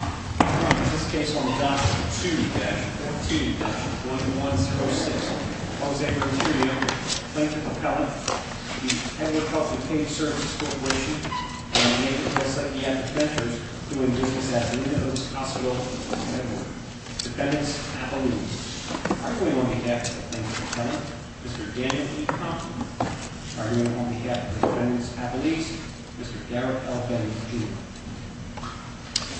I hereby pronounce this case on the docket 2-14-1106, Jose Renteria v. Lincoln Appellate, the Edward Health & Community Services Corporation, and the name of this IPF ventures, who in business as many of them as possible remember. Defendants Appellees. Arguing on behalf of Lincoln Appellate, Mr. Daniel E. Conklin. Arguing on behalf of Defendants Appellees, Mr. Garrett L. Benny Jr.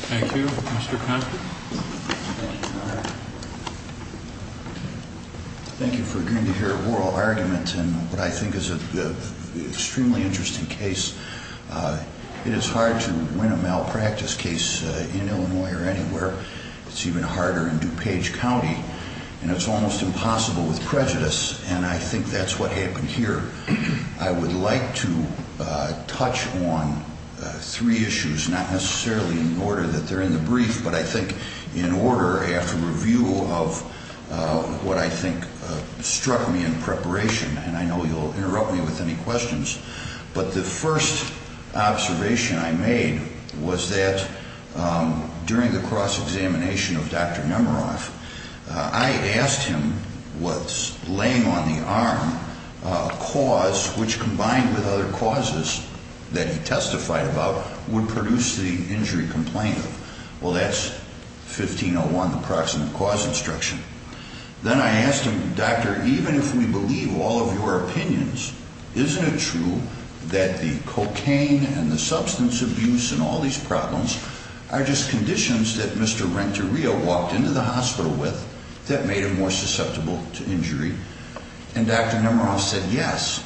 Thank you. Mr. Conklin. Thank you for agreeing to hear a oral argument in what I think is an extremely interesting case. It is hard to win a malpractice case in Illinois or anywhere. It's even harder in DuPage County. And it's almost impossible with prejudice, and I think that's what happened here. I would like to touch on three issues, not necessarily in order that they're in the brief, but I think in order after review of what I think struck me in preparation, and I know you'll interrupt me with any questions, but the first observation I made was that during the cross-examination of Dr. Nemeroff, I asked him what laying on the arm cause, which combined with other causes that he testified about, would produce the injury complaint. Well, that's 1501, the Proximate Cause Instruction. Then I asked him, Doctor, even if we believe all of your opinions, isn't it true that the cocaine and the substance abuse and all these problems are just conditions that Mr. Renteria walked into the hospital with that made him more susceptible to injury? And Dr. Nemeroff said yes.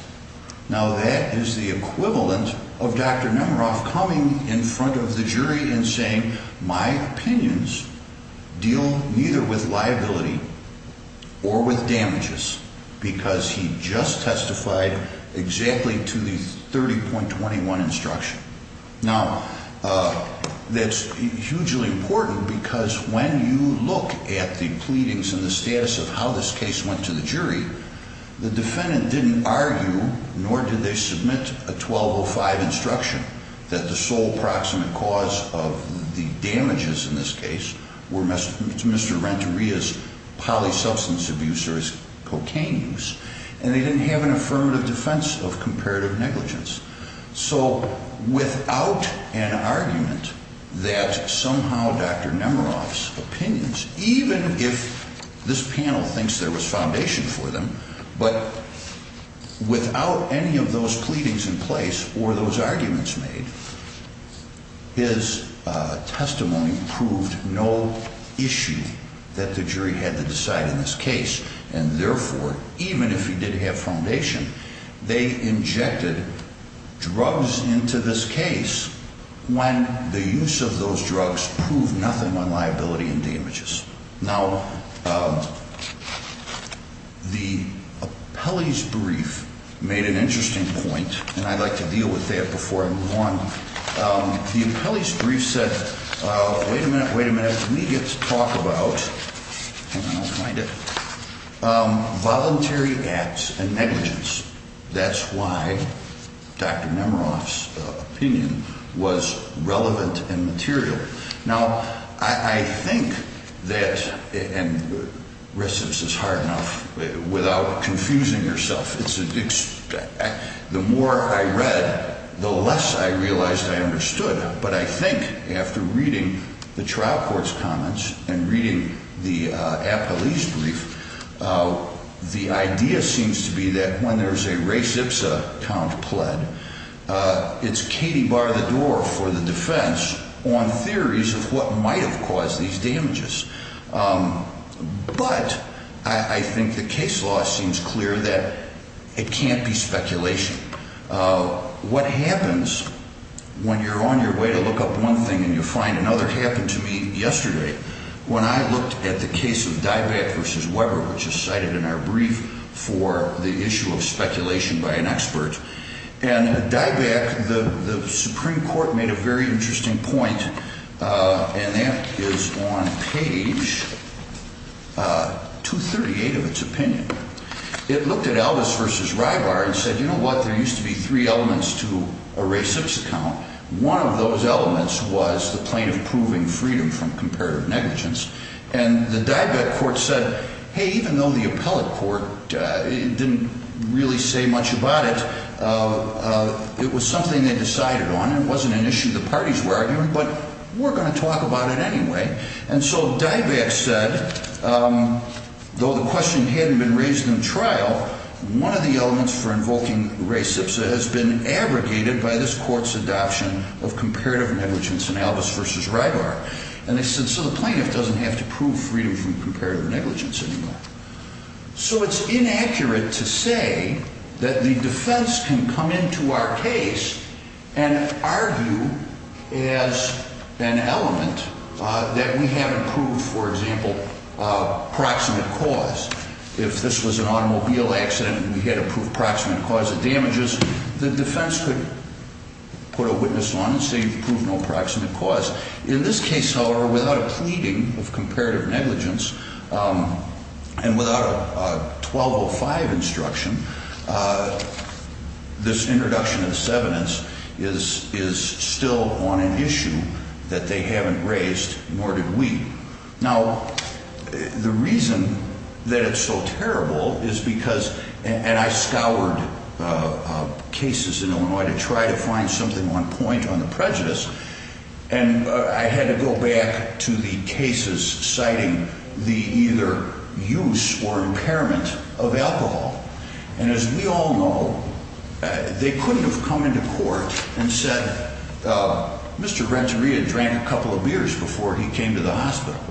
Now, that is the equivalent of Dr. Nemeroff coming in front of the jury and saying, my opinions deal neither with liability or with damages, because he just testified exactly to the 30.21 instruction. Now, that's hugely important because when you look at the pleadings and the status of how this case went to the jury, the defendant didn't argue, nor did they submit a 1205 instruction, that the sole proximate cause of the damages in this case were Mr. Renteria's polysubstance abuse or his cocaine use, and they didn't have an affirmative defense of comparative negligence. So without an argument that somehow Dr. Nemeroff's opinions, even if this panel thinks there was foundation for them, but without any of those pleadings in place or those arguments made, his testimony proved no issue that the jury had to decide in this case. And therefore, even if he did have foundation, they injected drugs into this case when the use of those drugs proved nothing on liability and damages. Now, the appellee's brief made an interesting point, and I'd like to deal with that before I move on. The appellee's brief said, wait a minute, wait a minute, we get to talk about, hang on, I'll find it, voluntary acts and negligence. That's why Dr. Nemeroff's opinion was relevant and material. Now, I think that, and recidivist is hard enough, without confusing yourself, the more I read, the less I realized I understood. But I think after reading the trial court's comments and reading the appellee's brief, the idea seems to be that when there's a res ipsa count pled, it's Katie bar the door for the defense on theories of what might have caused these damages. But I think the case law seems clear that it can't be speculation. What happens when you're on your way to look up one thing and you find another happened to me yesterday when I looked at the case of Dieback v. Weber, which is cited in our brief for the issue of speculation by an expert. And Dieback, the Supreme Court made a very interesting point, and that is on page 238 of its opinion. It looked at Elvis v. Rybar and said, you know what, there used to be three elements to a res ipsa count. One of those elements was the plaintiff proving freedom from comparative negligence. And the Dieback court said, hey, even though the appellate court didn't really say much about it, it was something they decided on. It wasn't an issue the parties were arguing, but we're going to talk about it anyway. And so Dieback said, though the question hadn't been raised in trial, one of the elements for invoking res ipsa has been abrogated by this court's adoption of comparative negligence in Elvis v. Rybar. And they said, so the plaintiff doesn't have to prove freedom from comparative negligence anymore. So it's inaccurate to say that the defense can come into our case and argue as an element that we haven't proved, for example, proximate cause. If this was an automobile accident and we had to prove proximate cause of damages, the defense could put a witness on and say you've proved no proximate cause. In this case, however, without a pleading of comparative negligence and without a 1205 instruction, this introduction of the 7th is still on an issue that they haven't raised, nor did we. Now, the reason that it's so terrible is because, and I scoured cases in Illinois to try to find something on point on the prejudice. And I had to go back to the cases citing the either use or impairment of alcohol. And as we all know, they couldn't have come into court and said, Mr. Renteria drank a couple of beers before he came to the hospital.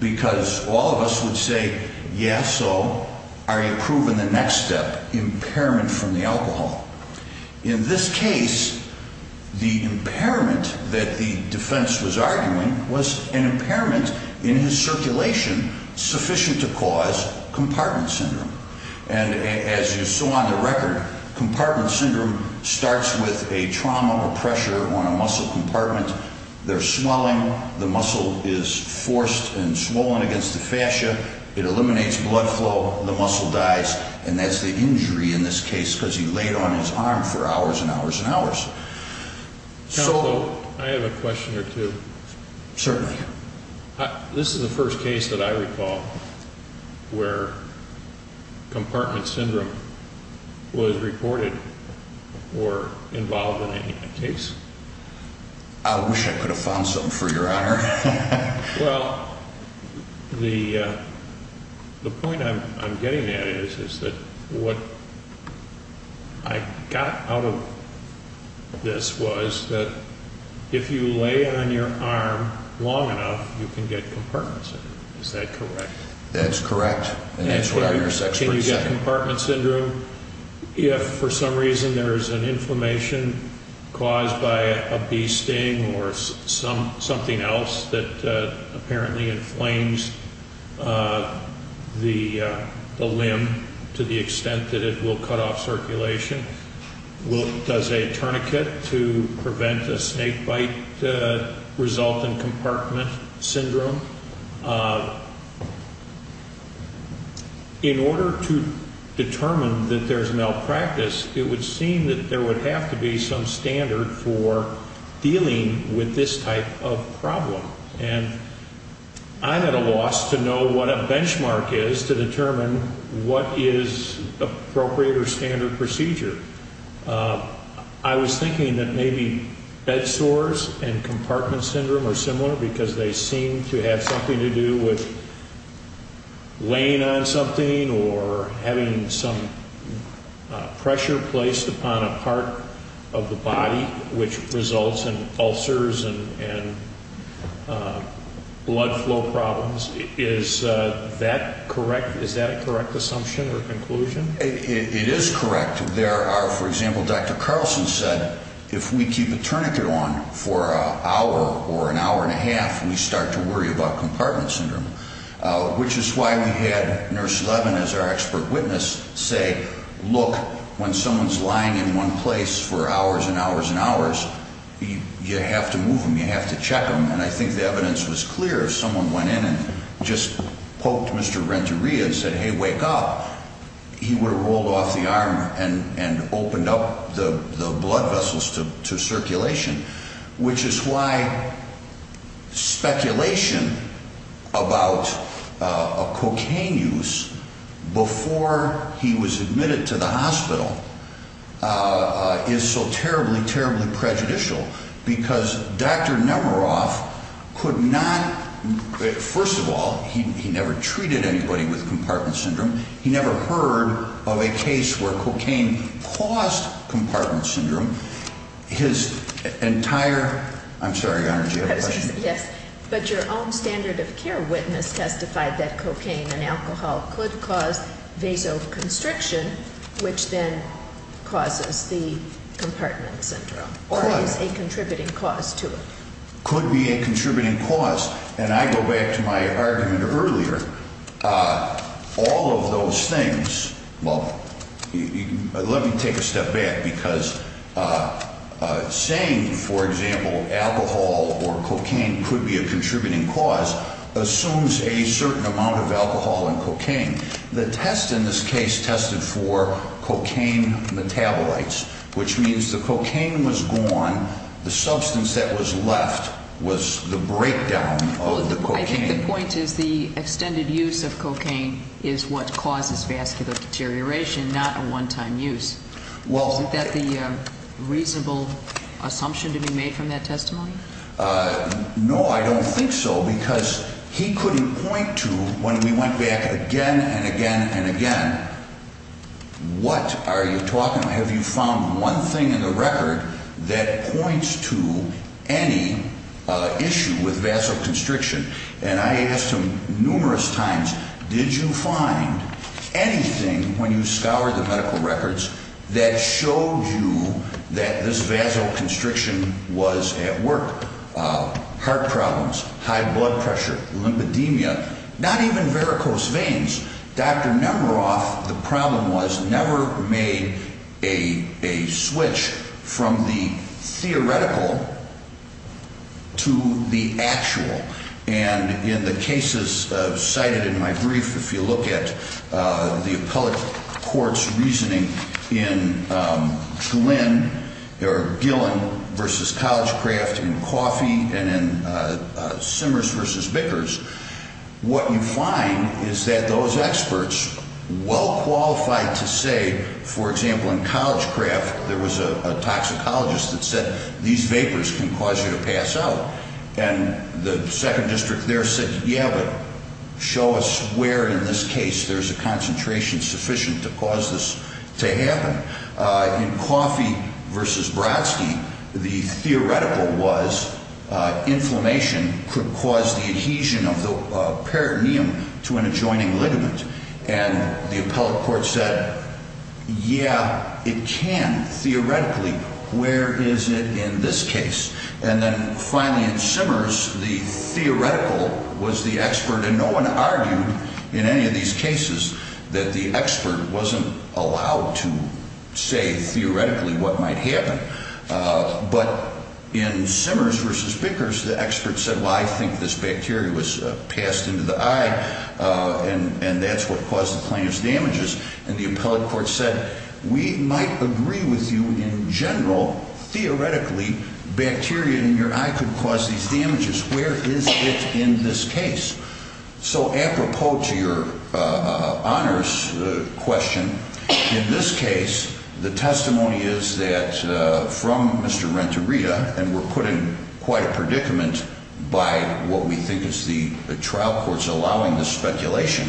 Because all of us would say, yes, so are you proving the next step, impairment from the alcohol? In this case, the impairment that the defense was arguing was an impairment in his circulation sufficient to cause compartment syndrome. And as you saw on the record, compartment syndrome starts with a trauma or pressure on a muscle compartment. There's swelling, the muscle is forced and swollen against the fascia, it eliminates blood flow, the muscle dies. And that's the injury in this case because he laid on his arm for hours and hours and hours. Counsel, I have a question or two. Certainly. This is the first case that I recall where compartment syndrome was reported or involved in a case. I wish I could have found something for your honor. Well, the point I'm getting at is that what I got out of this was that if you lay on your arm long enough, you can get compartment syndrome. Is that correct? That's correct. Can you get compartment syndrome if for some reason there is an inflammation caused by a bee sting or something else that apparently inflames the limb to the extent that it will cut off circulation? Does a tourniquet to prevent a snake bite result in compartment syndrome? In order to determine that there's malpractice, it would seem that there would have to be some standard for dealing with this type of problem. And I'm at a loss to know what a benchmark is to determine what is appropriate or standard procedure. I was thinking that maybe bed sores and compartment syndrome are similar because they seem to have something to do with laying on something or having some pressure placed upon a part of the body which results in ulcers and blood flow problems. Is that a correct assumption or conclusion? It is correct. There are, for example, Dr. Carlson said, if we keep a tourniquet on for an hour or an hour and a half, we start to worry about compartment syndrome. Which is why we had Nurse Levin as our expert witness say, look, when someone's lying in one place for hours and hours and hours, you have to move them, you have to check them. And I think the evidence was clear. If someone went in and just poked Mr. Renteria and said, hey, wake up, he would have rolled off the arm and opened up the blood vessels to circulation. Which is why speculation about cocaine use before he was admitted to the hospital is so terribly, terribly prejudicial because Dr. Nemeroff could not, first of all, he never treated anybody with compartment syndrome. He never heard of a case where cocaine caused compartment syndrome. His entire, I'm sorry, Your Honor, did you have a question? Yes. But your own standard of care witness testified that cocaine and alcohol could cause vasoconstriction, which then causes the compartment syndrome. Or is a contributing cause to it? Could be a contributing cause. And I go back to my argument earlier. All of those things, well, let me take a step back because saying, for example, alcohol or cocaine could be a contributing cause assumes a certain amount of alcohol and cocaine. The test in this case tested for cocaine metabolites, which means the cocaine was gone. The substance that was left was the breakdown of the cocaine. I think the point is the extended use of cocaine is what causes vascular deterioration, not a one-time use. Well. Isn't that the reasonable assumption to be made from that testimony? No, I don't think so, because he couldn't point to, when we went back again and again and again, what are you talking about? Have you found one thing in the record that points to any issue with vasoconstriction? And I asked him numerous times, did you find anything, when you scoured the medical records, that showed you that this vasoconstriction was at work? Heart problems, high blood pressure, lymphedemia, not even varicose veins. Dr. Nemeroff, the problem was, never made a switch from the theoretical to the actual. And in the cases cited in my brief, if you look at the appellate court's reasoning in Gillen v. Collegecraft in coffee and in Simmers v. Bickers, what you find is that those experts well qualified to say, for example, in Collegecraft, there was a toxicologist that said these vapors can cause you to pass out. And the second district there said, yeah, but show us where in this case there's a concentration sufficient to cause this to happen. In Coffee v. Brodsky, the theoretical was inflammation could cause the adhesion of the peritoneum to an adjoining ligament. And the appellate court said, yeah, it can, theoretically. Where is it in this case? And then finally in Simmers, the theoretical was the expert, and no one argued in any of these cases that the expert wasn't allowed to say theoretically what might happen. But in Simmers v. Bickers, the expert said, well, I think this bacteria was passed into the eye, and that's what caused the plaintiff's damages. And the appellate court said, we might agree with you in general, theoretically, bacteria in your eye could cause these damages. Where is it in this case? So apropos to your honors question, in this case, the testimony is that from Mr. Renteria, and we're putting quite a predicament by what we think is the trial courts allowing the speculation,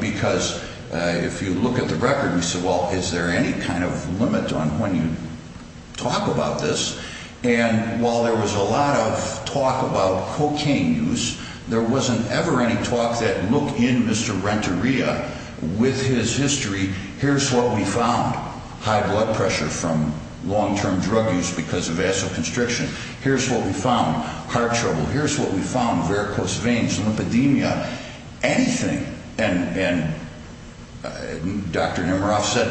because if you look at the record, you say, well, is there any kind of limit on when you talk about this? And while there was a lot of talk about cocaine use, there wasn't ever any talk that looked in Mr. Renteria with his history. Here's what we found, high blood pressure from long-term drug use because of vasoconstriction. Here's what we found, heart trouble. Here's what we found, varicose veins, lymphedemia, anything. And Dr. Nemiroff said,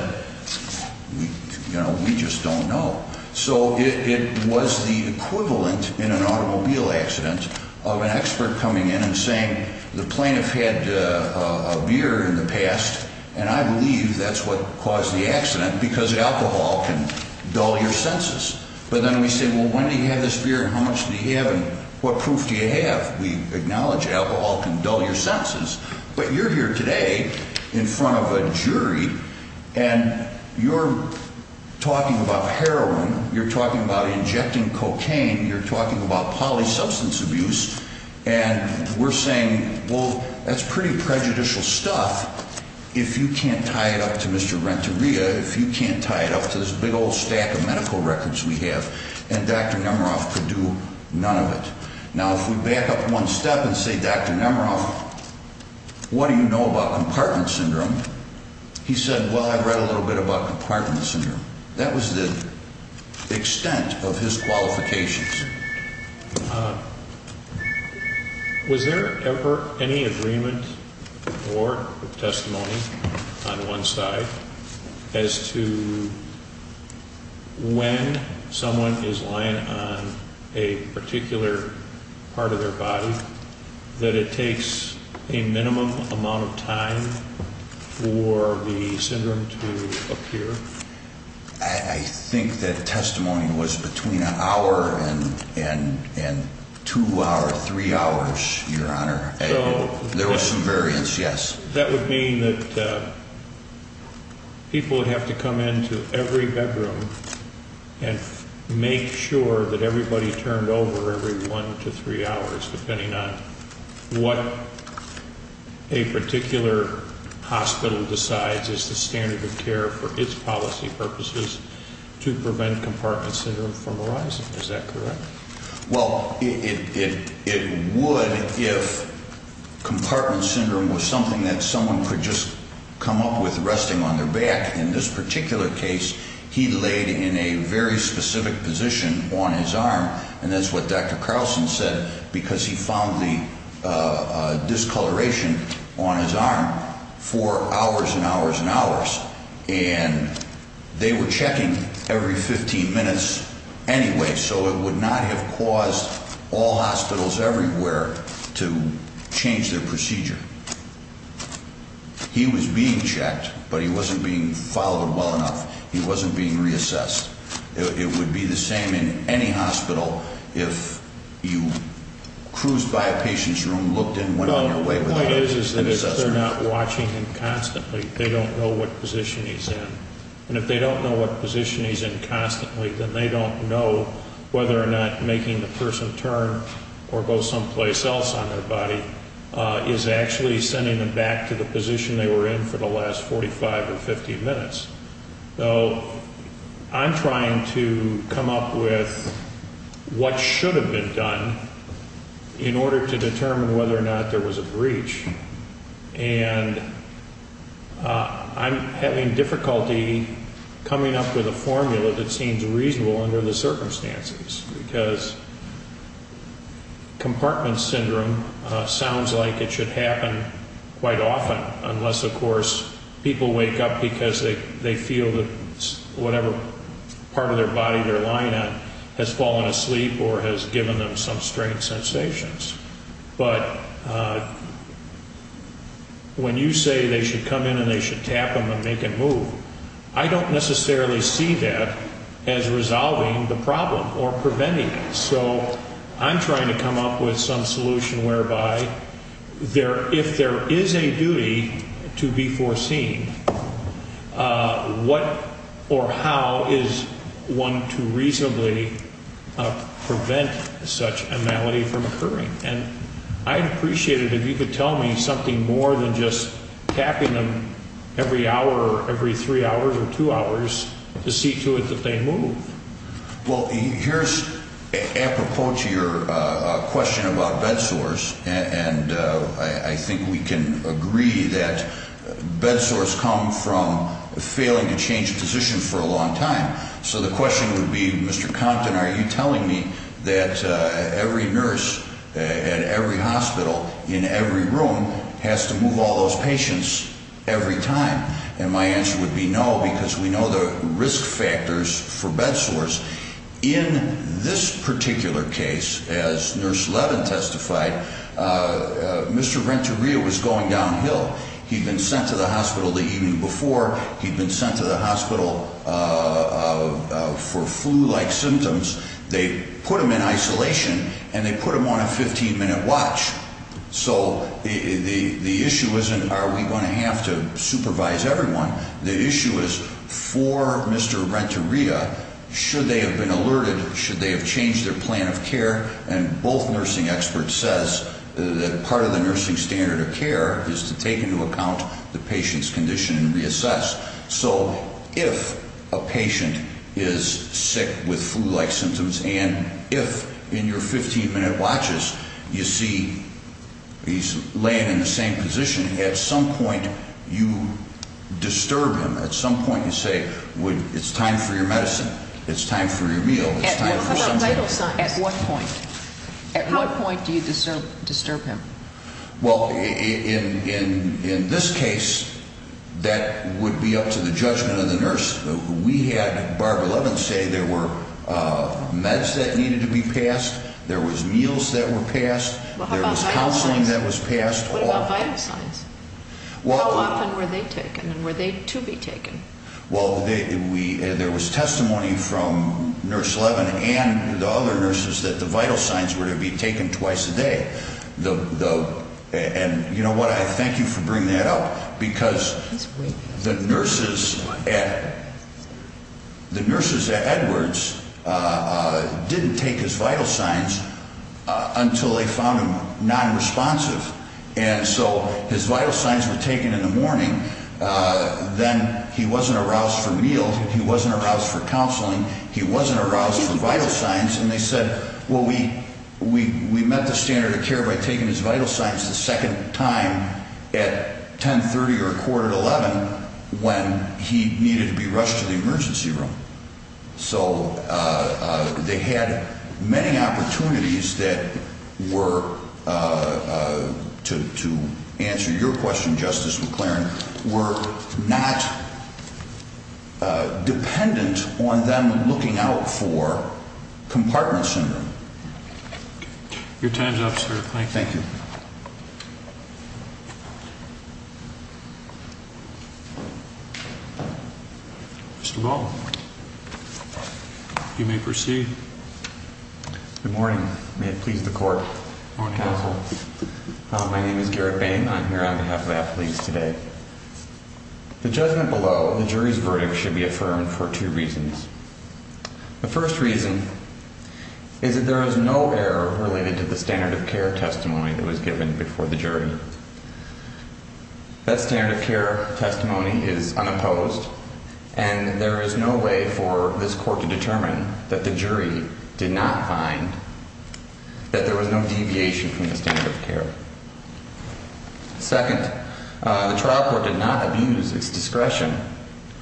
you know, we just don't know. So it was the equivalent in an automobile accident of an expert coming in and saying, the plaintiff had a beer in the past, and I believe that's what caused the accident because alcohol can dull your senses. But then we say, well, when did he have this beer, and how much did he have, and what proof do you have? We acknowledge alcohol can dull your senses. But you're here today in front of a jury, and you're talking about heroin. You're talking about injecting cocaine. You're talking about polysubstance abuse. And we're saying, well, that's pretty prejudicial stuff. If you can't tie it up to Mr. Renteria, if you can't tie it up to this big old stack of medical records we have, and Dr. Nemiroff could do none of it. Now, if we back up one step and say, Dr. Nemiroff, what do you know about compartment syndrome? He said, well, I read a little bit about compartment syndrome. That was the extent of his qualifications. Was there ever any agreement or testimony on one side as to when someone is lying on a particular part of their body that it takes a minimum amount of time for the syndrome to appear? I think that testimony was between an hour and two hours, three hours, Your Honor. There was some variance, yes. That would mean that people would have to come into every bedroom and make sure that everybody turned over every one to three hours, depending on what a particular hospital decides is the standard of care for its policy purposes, to prevent compartment syndrome from arising. Is that correct? Well, it would if compartment syndrome was something that someone could just come up with resting on their back. In this particular case, he laid in a very specific position on his arm, and that's what Dr. Carlson said, because he found the discoloration on his arm for hours and hours and hours. And they were checking every 15 minutes anyway, so it would not have caused all hospitals everywhere to change their procedure. He was being checked, but he wasn't being followed well enough. He wasn't being reassessed. It would be the same in any hospital if you cruised by a patient's room, looked in, went on your way without an assessor. The point is that if they're not watching him constantly, they don't know what position he's in. And if they don't know what position he's in constantly, then they don't know whether or not making the person turn or go someplace else on their body is actually sending them back to the position they were in for the last 45 or 50 minutes. So I'm trying to come up with what should have been done in order to determine whether or not there was a breach. And I'm having difficulty coming up with a formula that seems reasonable under the circumstances, because compartment syndrome sounds like it should happen quite often, unless, of course, people wake up because they feel that whatever part of their body they're lying on has fallen asleep or has given them some strange sensations. But when you say they should come in and they should tap him and make him move, I don't necessarily see that as resolving the problem or preventing it. So I'm trying to come up with some solution whereby if there is a duty to be foreseen, what or how is one to reasonably prevent such a malady from occurring? And I'd appreciate it if you could tell me something more than just tapping them every hour or every three hours or two hours to see to it that they move. Well, here's apropos to your question about bed sores, and I think we can agree that bed sores come from failing to change positions for a long time. So the question would be, Mr. Compton, are you telling me that every nurse at every hospital in every room has to move all those patients every time? And my answer would be no, because we know the risk factors for bed sores. In this particular case, as Nurse Levin testified, Mr. Renteria was going downhill. He'd been sent to the hospital the evening before. He'd been sent to the hospital for flu-like symptoms. They put him in isolation, and they put him on a 15-minute watch. So the issue isn't are we going to have to supervise everyone. The issue is for Mr. Renteria, should they have been alerted, should they have changed their plan of care? And both nursing experts says that part of the nursing standard of care is to take into account the patient's condition and reassess. So if a patient is sick with flu-like symptoms and if in your 15-minute watches you see he's laying in the same position, at some point you disturb him. At some point you say, it's time for your medicine, it's time for your meal, it's time for something. At what point? At what point do you disturb him? Well, in this case, that would be up to the judgment of the nurse. We had Barbara Levin say there were meds that needed to be passed, there was meals that were passed, there was counseling that was passed. What about vital signs? How often were they taken and were they to be taken? Well, there was testimony from Nurse Levin and the other nurses that the vital signs were to be taken twice a day. And you know what, I thank you for bringing that up because the nurses at Edwards didn't take his vital signs until they found him nonresponsive. And so his vital signs were taken in the morning. Then he wasn't aroused for meals, he wasn't aroused for counseling, he wasn't aroused for vital signs. And they said, well, we met the standard of care by taking his vital signs the second time at 10.30 or a quarter to 11 when he needed to be rushed to the emergency room. So they had many opportunities that were, to answer your question, Justice McLaren, were not dependent on them looking out for compartment syndrome. Your time's up, sir. Thank you. Thank you. Mr. Ball, you may proceed. Good morning. May it please the court. My name is Garrett Bain. I'm here on behalf of athletes today. The judgment below the jury's verdict should be affirmed for two reasons. The first reason is that there is no error related to the standard of care testimony that was given before the jury. That standard of care testimony is unopposed, and there is no way for this court to determine that the jury did not find that there was no deviation from the standard of care. Second, the trial court did not abuse its discretion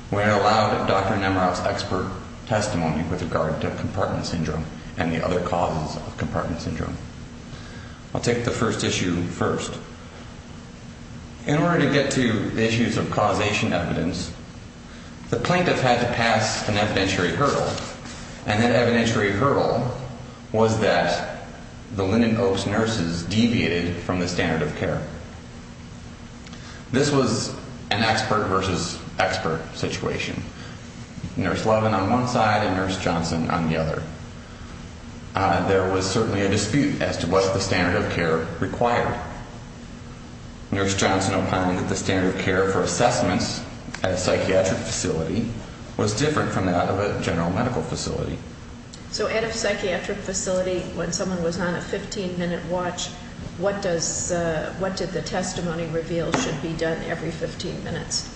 when it allowed Dr. Nemiroff's expert testimony with regard to compartment syndrome and the other causes of compartment syndrome. I'll take the first issue first. In order to get to the issues of causation evidence, the plaintiff had to pass an evidentiary hurdle, and that evidentiary hurdle was that the Linden Oaks nurses deviated from the standard of care. This was an expert versus expert situation. Nurse Levin on one side and Nurse Johnson on the other. There was certainly a dispute as to what the standard of care required. Nurse Johnson opined that the standard of care for assessments at a psychiatric facility was different from that of a general medical facility. So at a psychiatric facility, when someone was on a 15-minute watch, what did the testimony reveal should be done every 15 minutes?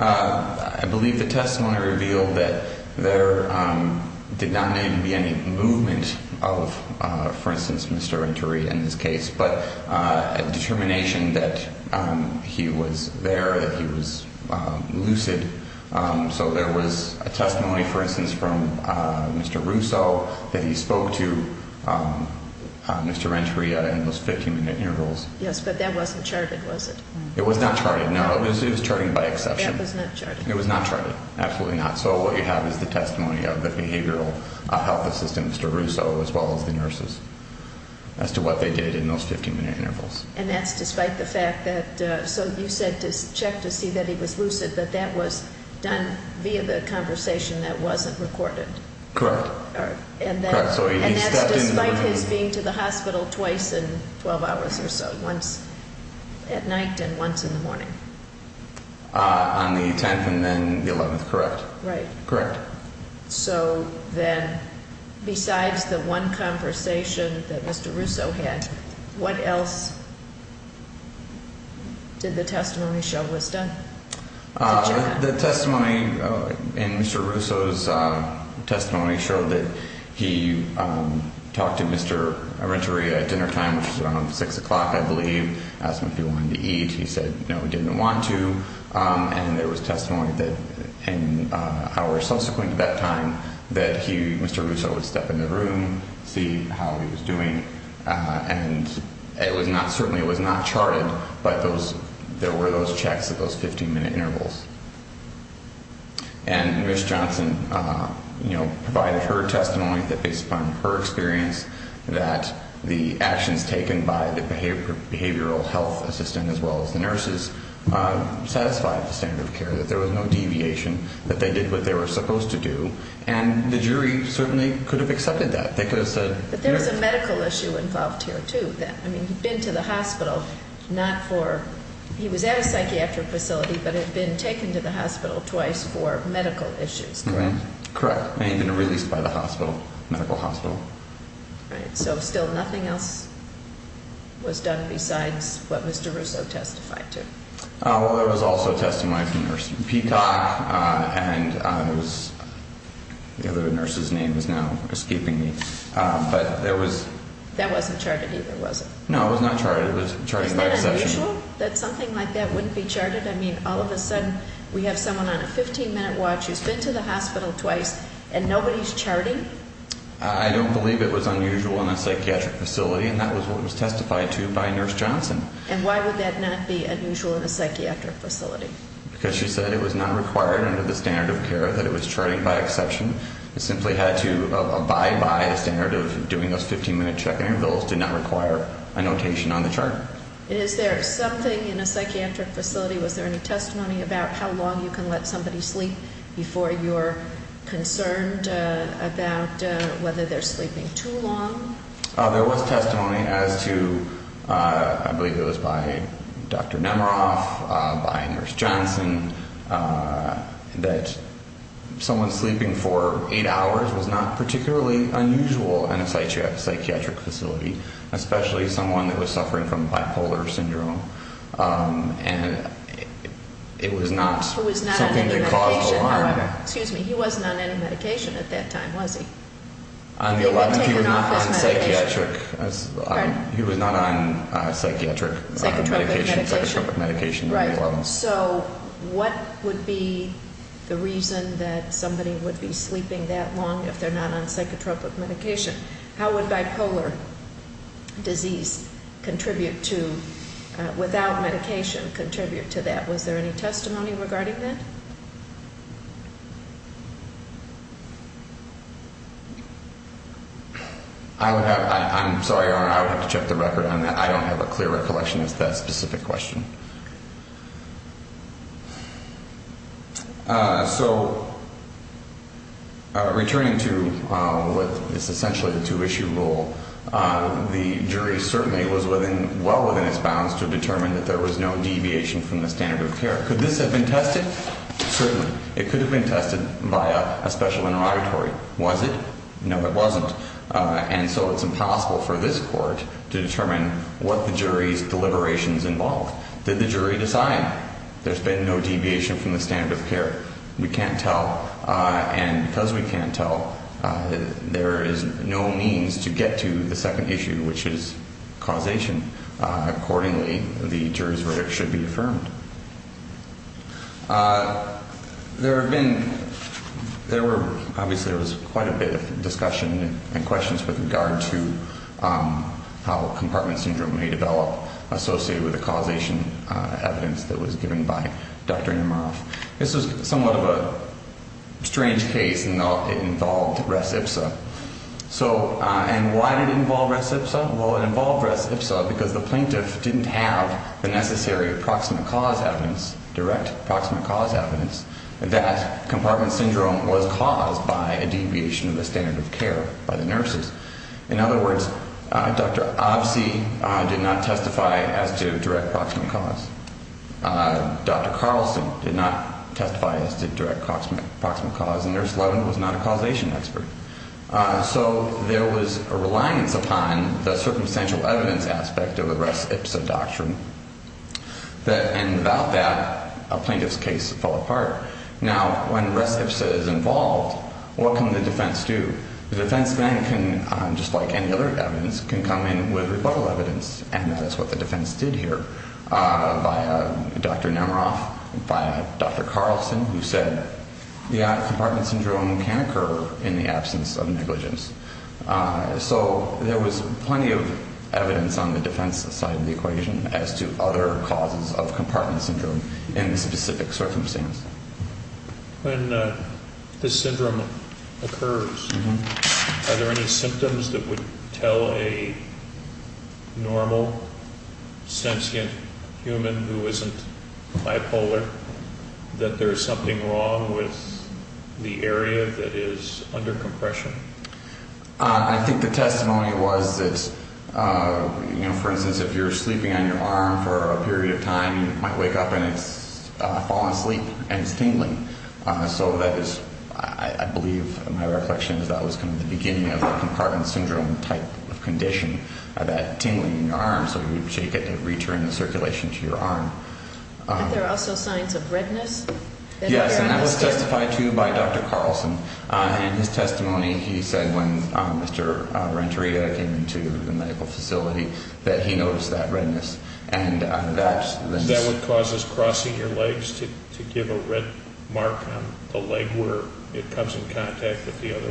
I believe the testimony revealed that there did not need to be any movement of, for instance, Mr. Renteria in this case, but a determination that he was there, that he was lucid. So there was a testimony, for instance, from Mr. Russo that he spoke to Mr. Renteria in those 15-minute intervals. Yes, but that wasn't charted, was it? It was not charted, no. It was charted by exception. That was not charted. It was not charted, absolutely not. So what you have is the testimony of the behavioral health assistant, Mr. Russo, as well as the nurses, as to what they did in those 15-minute intervals. And that's despite the fact that, so you said to check to see that he was lucid, but that was done via the conversation that wasn't recorded. Correct. And that's despite his being to the hospital twice in 12 hours or so, once at night and once in the morning. On the 10th and then the 11th, correct. Right. Correct. So then besides the one conversation that Mr. Russo had, what else did the testimony show was done? The testimony in Mr. Russo's testimony showed that he talked to Mr. Renteria at dinnertime, which was around 6 o'clock, I believe, asked him if he wanted to eat. He said no, he didn't want to. And there was testimony that in hours subsequent to that time that he, Mr. Russo, would step in the room, see how he was doing. And it was not, certainly it was not charted, but there were those checks at those 15-minute intervals. And Ms. Johnson, you know, provided her testimony that based upon her experience that the actions taken by the behavioral health assistant as well as the nurses satisfied the standard of care, that there was no deviation, that they did what they were supposed to do. And the jury certainly could have accepted that. But there was a medical issue involved here, too. I mean, he'd been to the hospital not for, he was at a psychiatric facility, but had been taken to the hospital twice for medical issues, correct? Correct. And he'd been released by the hospital, medical hospital. Right. So still nothing else was done besides what Mr. Russo testified to. Well, there was also a testimony from Nurse Peacock, and it was, the other nurse's name is now escaping me, but there was. That wasn't charted either, was it? No, it was not charted. It was charted by a session. Is that unusual, that something like that wouldn't be charted? I mean, all of a sudden we have someone on a 15-minute watch who's been to the hospital twice, and nobody's charting? I don't believe it was unusual in a psychiatric facility, and that was what was testified to by Nurse Johnson. And why would that not be unusual in a psychiatric facility? Because she said it was not required under the standard of care that it was charted by exception. It simply had to abide by the standard of doing those 15-minute check-in intervals. It did not require a notation on the chart. Is there something in a psychiatric facility, was there any testimony about how long you can let somebody sleep before you're concerned about whether they're sleeping too long? There was testimony as to, I believe it was by Dr. Nemeroff, by Nurse Johnson, that someone sleeping for eight hours was not particularly unusual in a psychiatric facility, especially someone that was suffering from bipolar syndrome. And it was not something that caused alarm. It was not on any medication. Excuse me, he wasn't on any medication at that time, was he? On the 11th, he was not on psychiatric medication, psychotropic medication on the 11th. So what would be the reason that somebody would be sleeping that long if they're not on psychotropic medication? How would bipolar disease contribute to, without medication, contribute to that? Was there any testimony regarding that? I'm sorry, Your Honor, I would have to check the record on that. I don't have a clear recollection as to that specific question. So returning to what is essentially the two-issue rule, the jury certainly was well within its bounds to determine that there was no deviation from the standard of care. Could this have been tested? Certainly. It could have been tested by a special interrogatory. Was it? No, it wasn't. And so it's impossible for this court to determine what the jury's deliberations involved. Did the jury decide? There's been no deviation from the standard of care. We can't tell. And because we can't tell, there is no means to get to the second issue, which is causation. Accordingly, the jury's verdict should be affirmed. There have been, there were, obviously there was quite a bit of discussion and questions with regard to how compartment syndrome may develop associated with the causation evidence that was given by Dr. Amaroff. This was somewhat of a strange case in that it involved res ipsa. So, and why did it involve res ipsa? Well, it involved res ipsa because the plaintiff didn't have the necessary proximate cause evidence, direct proximate cause evidence, that compartment syndrome was caused by a deviation of the standard of care by the nurses. In other words, Dr. Obsi did not testify as to direct proximate cause. Dr. Carlson did not testify as to direct proximate cause. And Nurse Levin was not a causation expert. So there was a reliance upon the circumstantial evidence aspect of the res ipsa doctrine. And without that, a plaintiff's case fell apart. Now, when res ipsa is involved, what can the defense do? The defense then can, just like any other evidence, can come in with rebuttal evidence. And that is what the defense did here via Dr. Amaroff, via Dr. Carlson, who said, yeah, compartment syndrome can occur in the absence of negligence. So there was plenty of evidence on the defense side of the equation as to other causes of compartment syndrome in the specific circumstance. When this syndrome occurs, are there any symptoms that would tell a normal, sentient human who isn't bipolar that there is something wrong with the area that is under compression? I think the testimony was that, you know, for instance, if you're sleeping on your arm for a period of time, you might wake up and it's fallen asleep and it's tingling. So that is, I believe, my reflection is that was kind of the beginning of the compartment syndrome type of condition, that tingling in your arm, so you shake it to return the circulation to your arm. Are there also signs of redness? Yes, and that was testified to by Dr. Carlson. In his testimony, he said when Mr. Renteria came into the medical facility that he noticed that redness. Is that what causes crossing your legs to give a red mark on the leg where it comes in contact with the other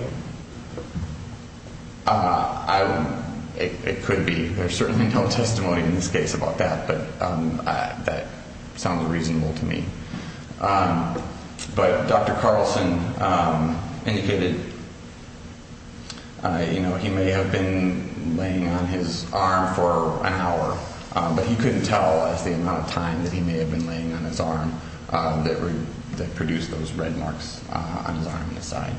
one? It could be. There's certainly no testimony in this case about that, but that sounds reasonable to me. But Dr. Carlson indicated, you know, he may have been laying on his arm for an hour, but he couldn't tell us the amount of time that he may have been laying on his arm that produced those red marks on his arm and his side.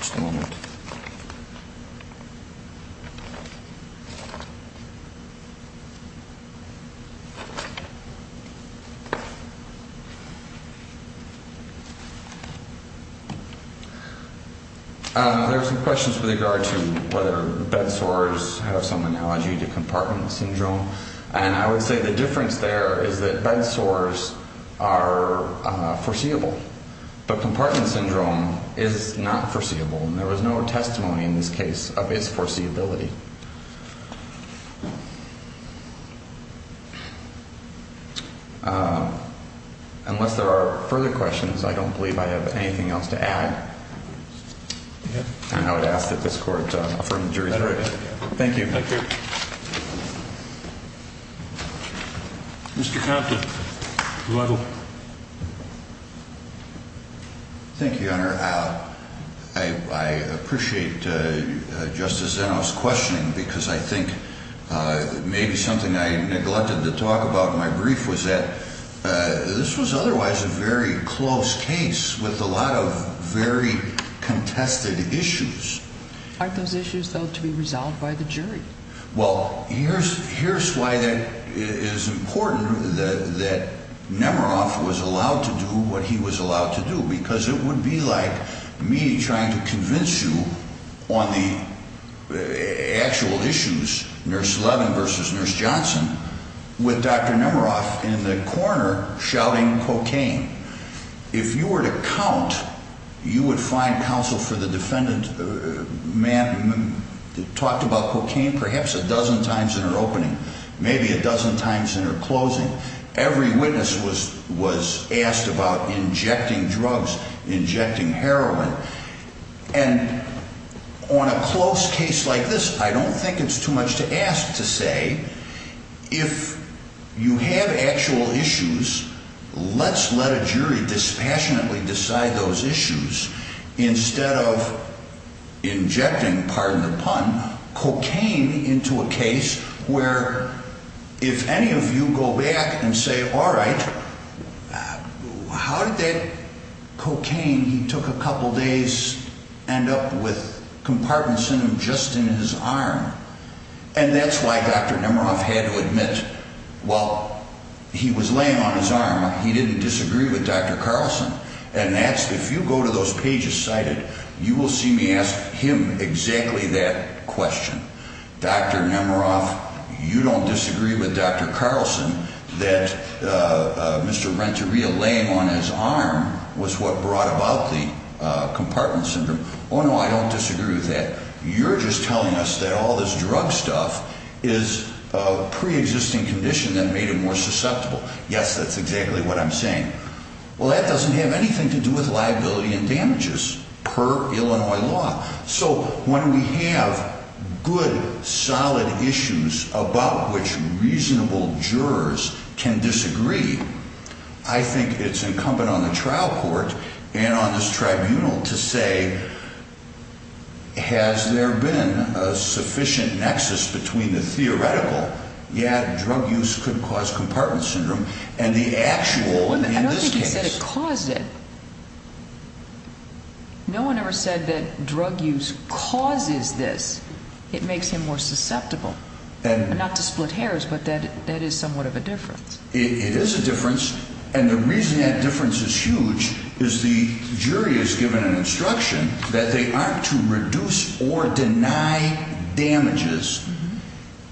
Just a moment. There are some questions with regard to whether bed sores have some analogy to compartment syndrome, and I would say the difference there is that bed sores are foreseeable, but compartment syndrome is not foreseeable, and there was no testimony in this case of its foreseeability. Unless there are further questions, I don't believe I have anything else to add, and I would ask that this Court affirm the jury's verdict. Thank you. Thank you. Thank you, Your Honor. I appreciate Justice Zeno's questioning because I think maybe something I neglected to talk about in my brief was that this was otherwise a very close case with a lot of very contested issues. Aren't those issues, though, to be resolved by the jury? Well, here's why that is important, that Nemerov was allowed to do what he was allowed to do, because it would be like me trying to convince you on the actual issues, Nurse Levin versus Nurse Johnson, with Dr. Nemerov in the corner shouting cocaine. If you were to count, you would find counsel for the defendant talked about cocaine perhaps a dozen times in her opening, maybe a dozen times in her closing. Every witness was asked about injecting drugs, injecting heroin. And on a close case like this, I don't think it's too much to ask to say, if you have actual issues, let's let a jury dispassionately decide those issues instead of injecting, pardon the pun, cocaine into a case where if any of you go back and say, all right, how did that cocaine… …in the first couple days end up with compartments in him just in his arm? And that's why Dr. Nemerov had to admit while he was laying on his arm, he didn't disagree with Dr. Carlson. And that's, if you go to those pages cited, you will see me ask him exactly that question. Dr. Nemerov, you don't disagree with Dr. Carlson that Mr. Renteria laying on his arm was what brought about the compartment syndrome. Oh, no, I don't disagree with that. You're just telling us that all this drug stuff is a preexisting condition that made him more susceptible. Yes, that's exactly what I'm saying. Well, that doesn't have anything to do with liability and damages per Illinois law. So when we have good, solid issues about which reasonable jurors can disagree, I think it's incumbent on the trial court and on this tribunal to say, has there been a sufficient nexus between the theoretical, yeah, drug use could cause compartment syndrome, and the actual in this case. I don't think he said it caused it. No one ever said that drug use causes this. It makes him more susceptible. Not to split hairs, but that is somewhat of a difference. It is a difference. And the reason that difference is huge is the jury is given an instruction that they aren't to reduce or deny damages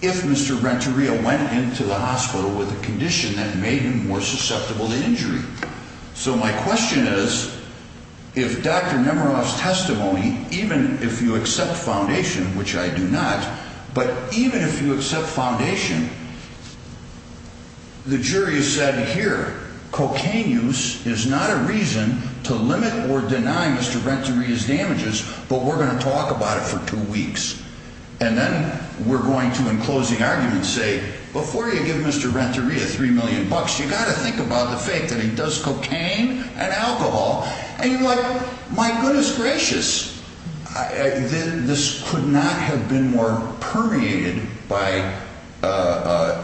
if Mr. Renteria went into the hospital with a condition that made him more susceptible to injury. So my question is, if Dr. Nemiroff's testimony, even if you accept foundation, which I do not, but even if you accept foundation, the jury has said, here, cocaine use is not a reason to limit or deny Mr. Renteria's damages, but we're going to talk about it for two weeks. And then we're going to, in closing arguments, say, before you give Mr. Renteria $3 million, you've got to think about the fact that he does cocaine and alcohol. And you're like, my goodness gracious, this could not have been more permeated by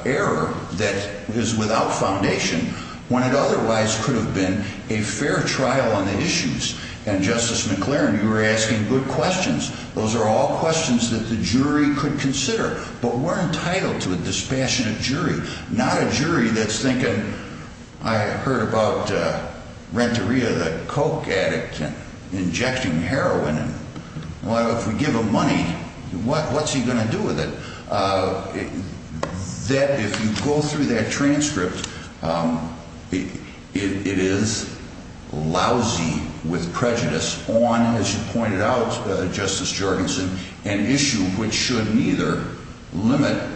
error that is without foundation when it otherwise could have been a fair trial on the issues. And Justice McLaren, you were asking good questions. Those are all questions that the jury could consider. But we're entitled to a dispassionate jury, not a jury that's thinking, I heard about Renteria, the coke addict, injecting heroin. Well, if we give him money, what's he going to do with it? That if you go through that transcript, it is lousy with prejudice on, as you pointed out, Justice Jorgensen, an issue which should neither limit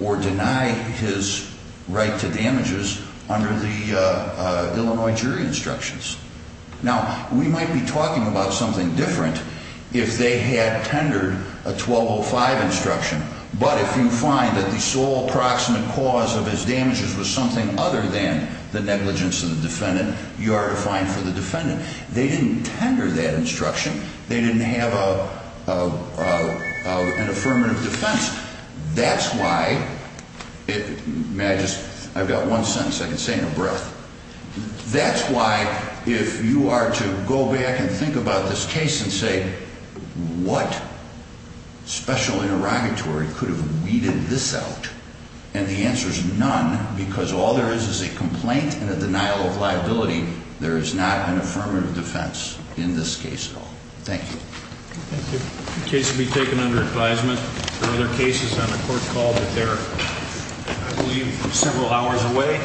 or deny his right to damages under the Illinois jury instructions. Now, we might be talking about something different if they had tendered a 1205 instruction. But if you find that the sole proximate cause of his damages was something other than the negligence of the defendant, you are defined for the defendant. They didn't tender that instruction. They didn't have an affirmative defense. That's why, may I just, I've got one sentence I can say in a breath. That's why if you are to go back and think about this case and say, what special interrogatory could have weeded this out? And the answer is none, because all there is is a complaint and a denial of liability. There is not an affirmative defense in this case at all. Thank you. The case will be taken under advisement. There are other cases on the court call, but they're, I believe, several hours away.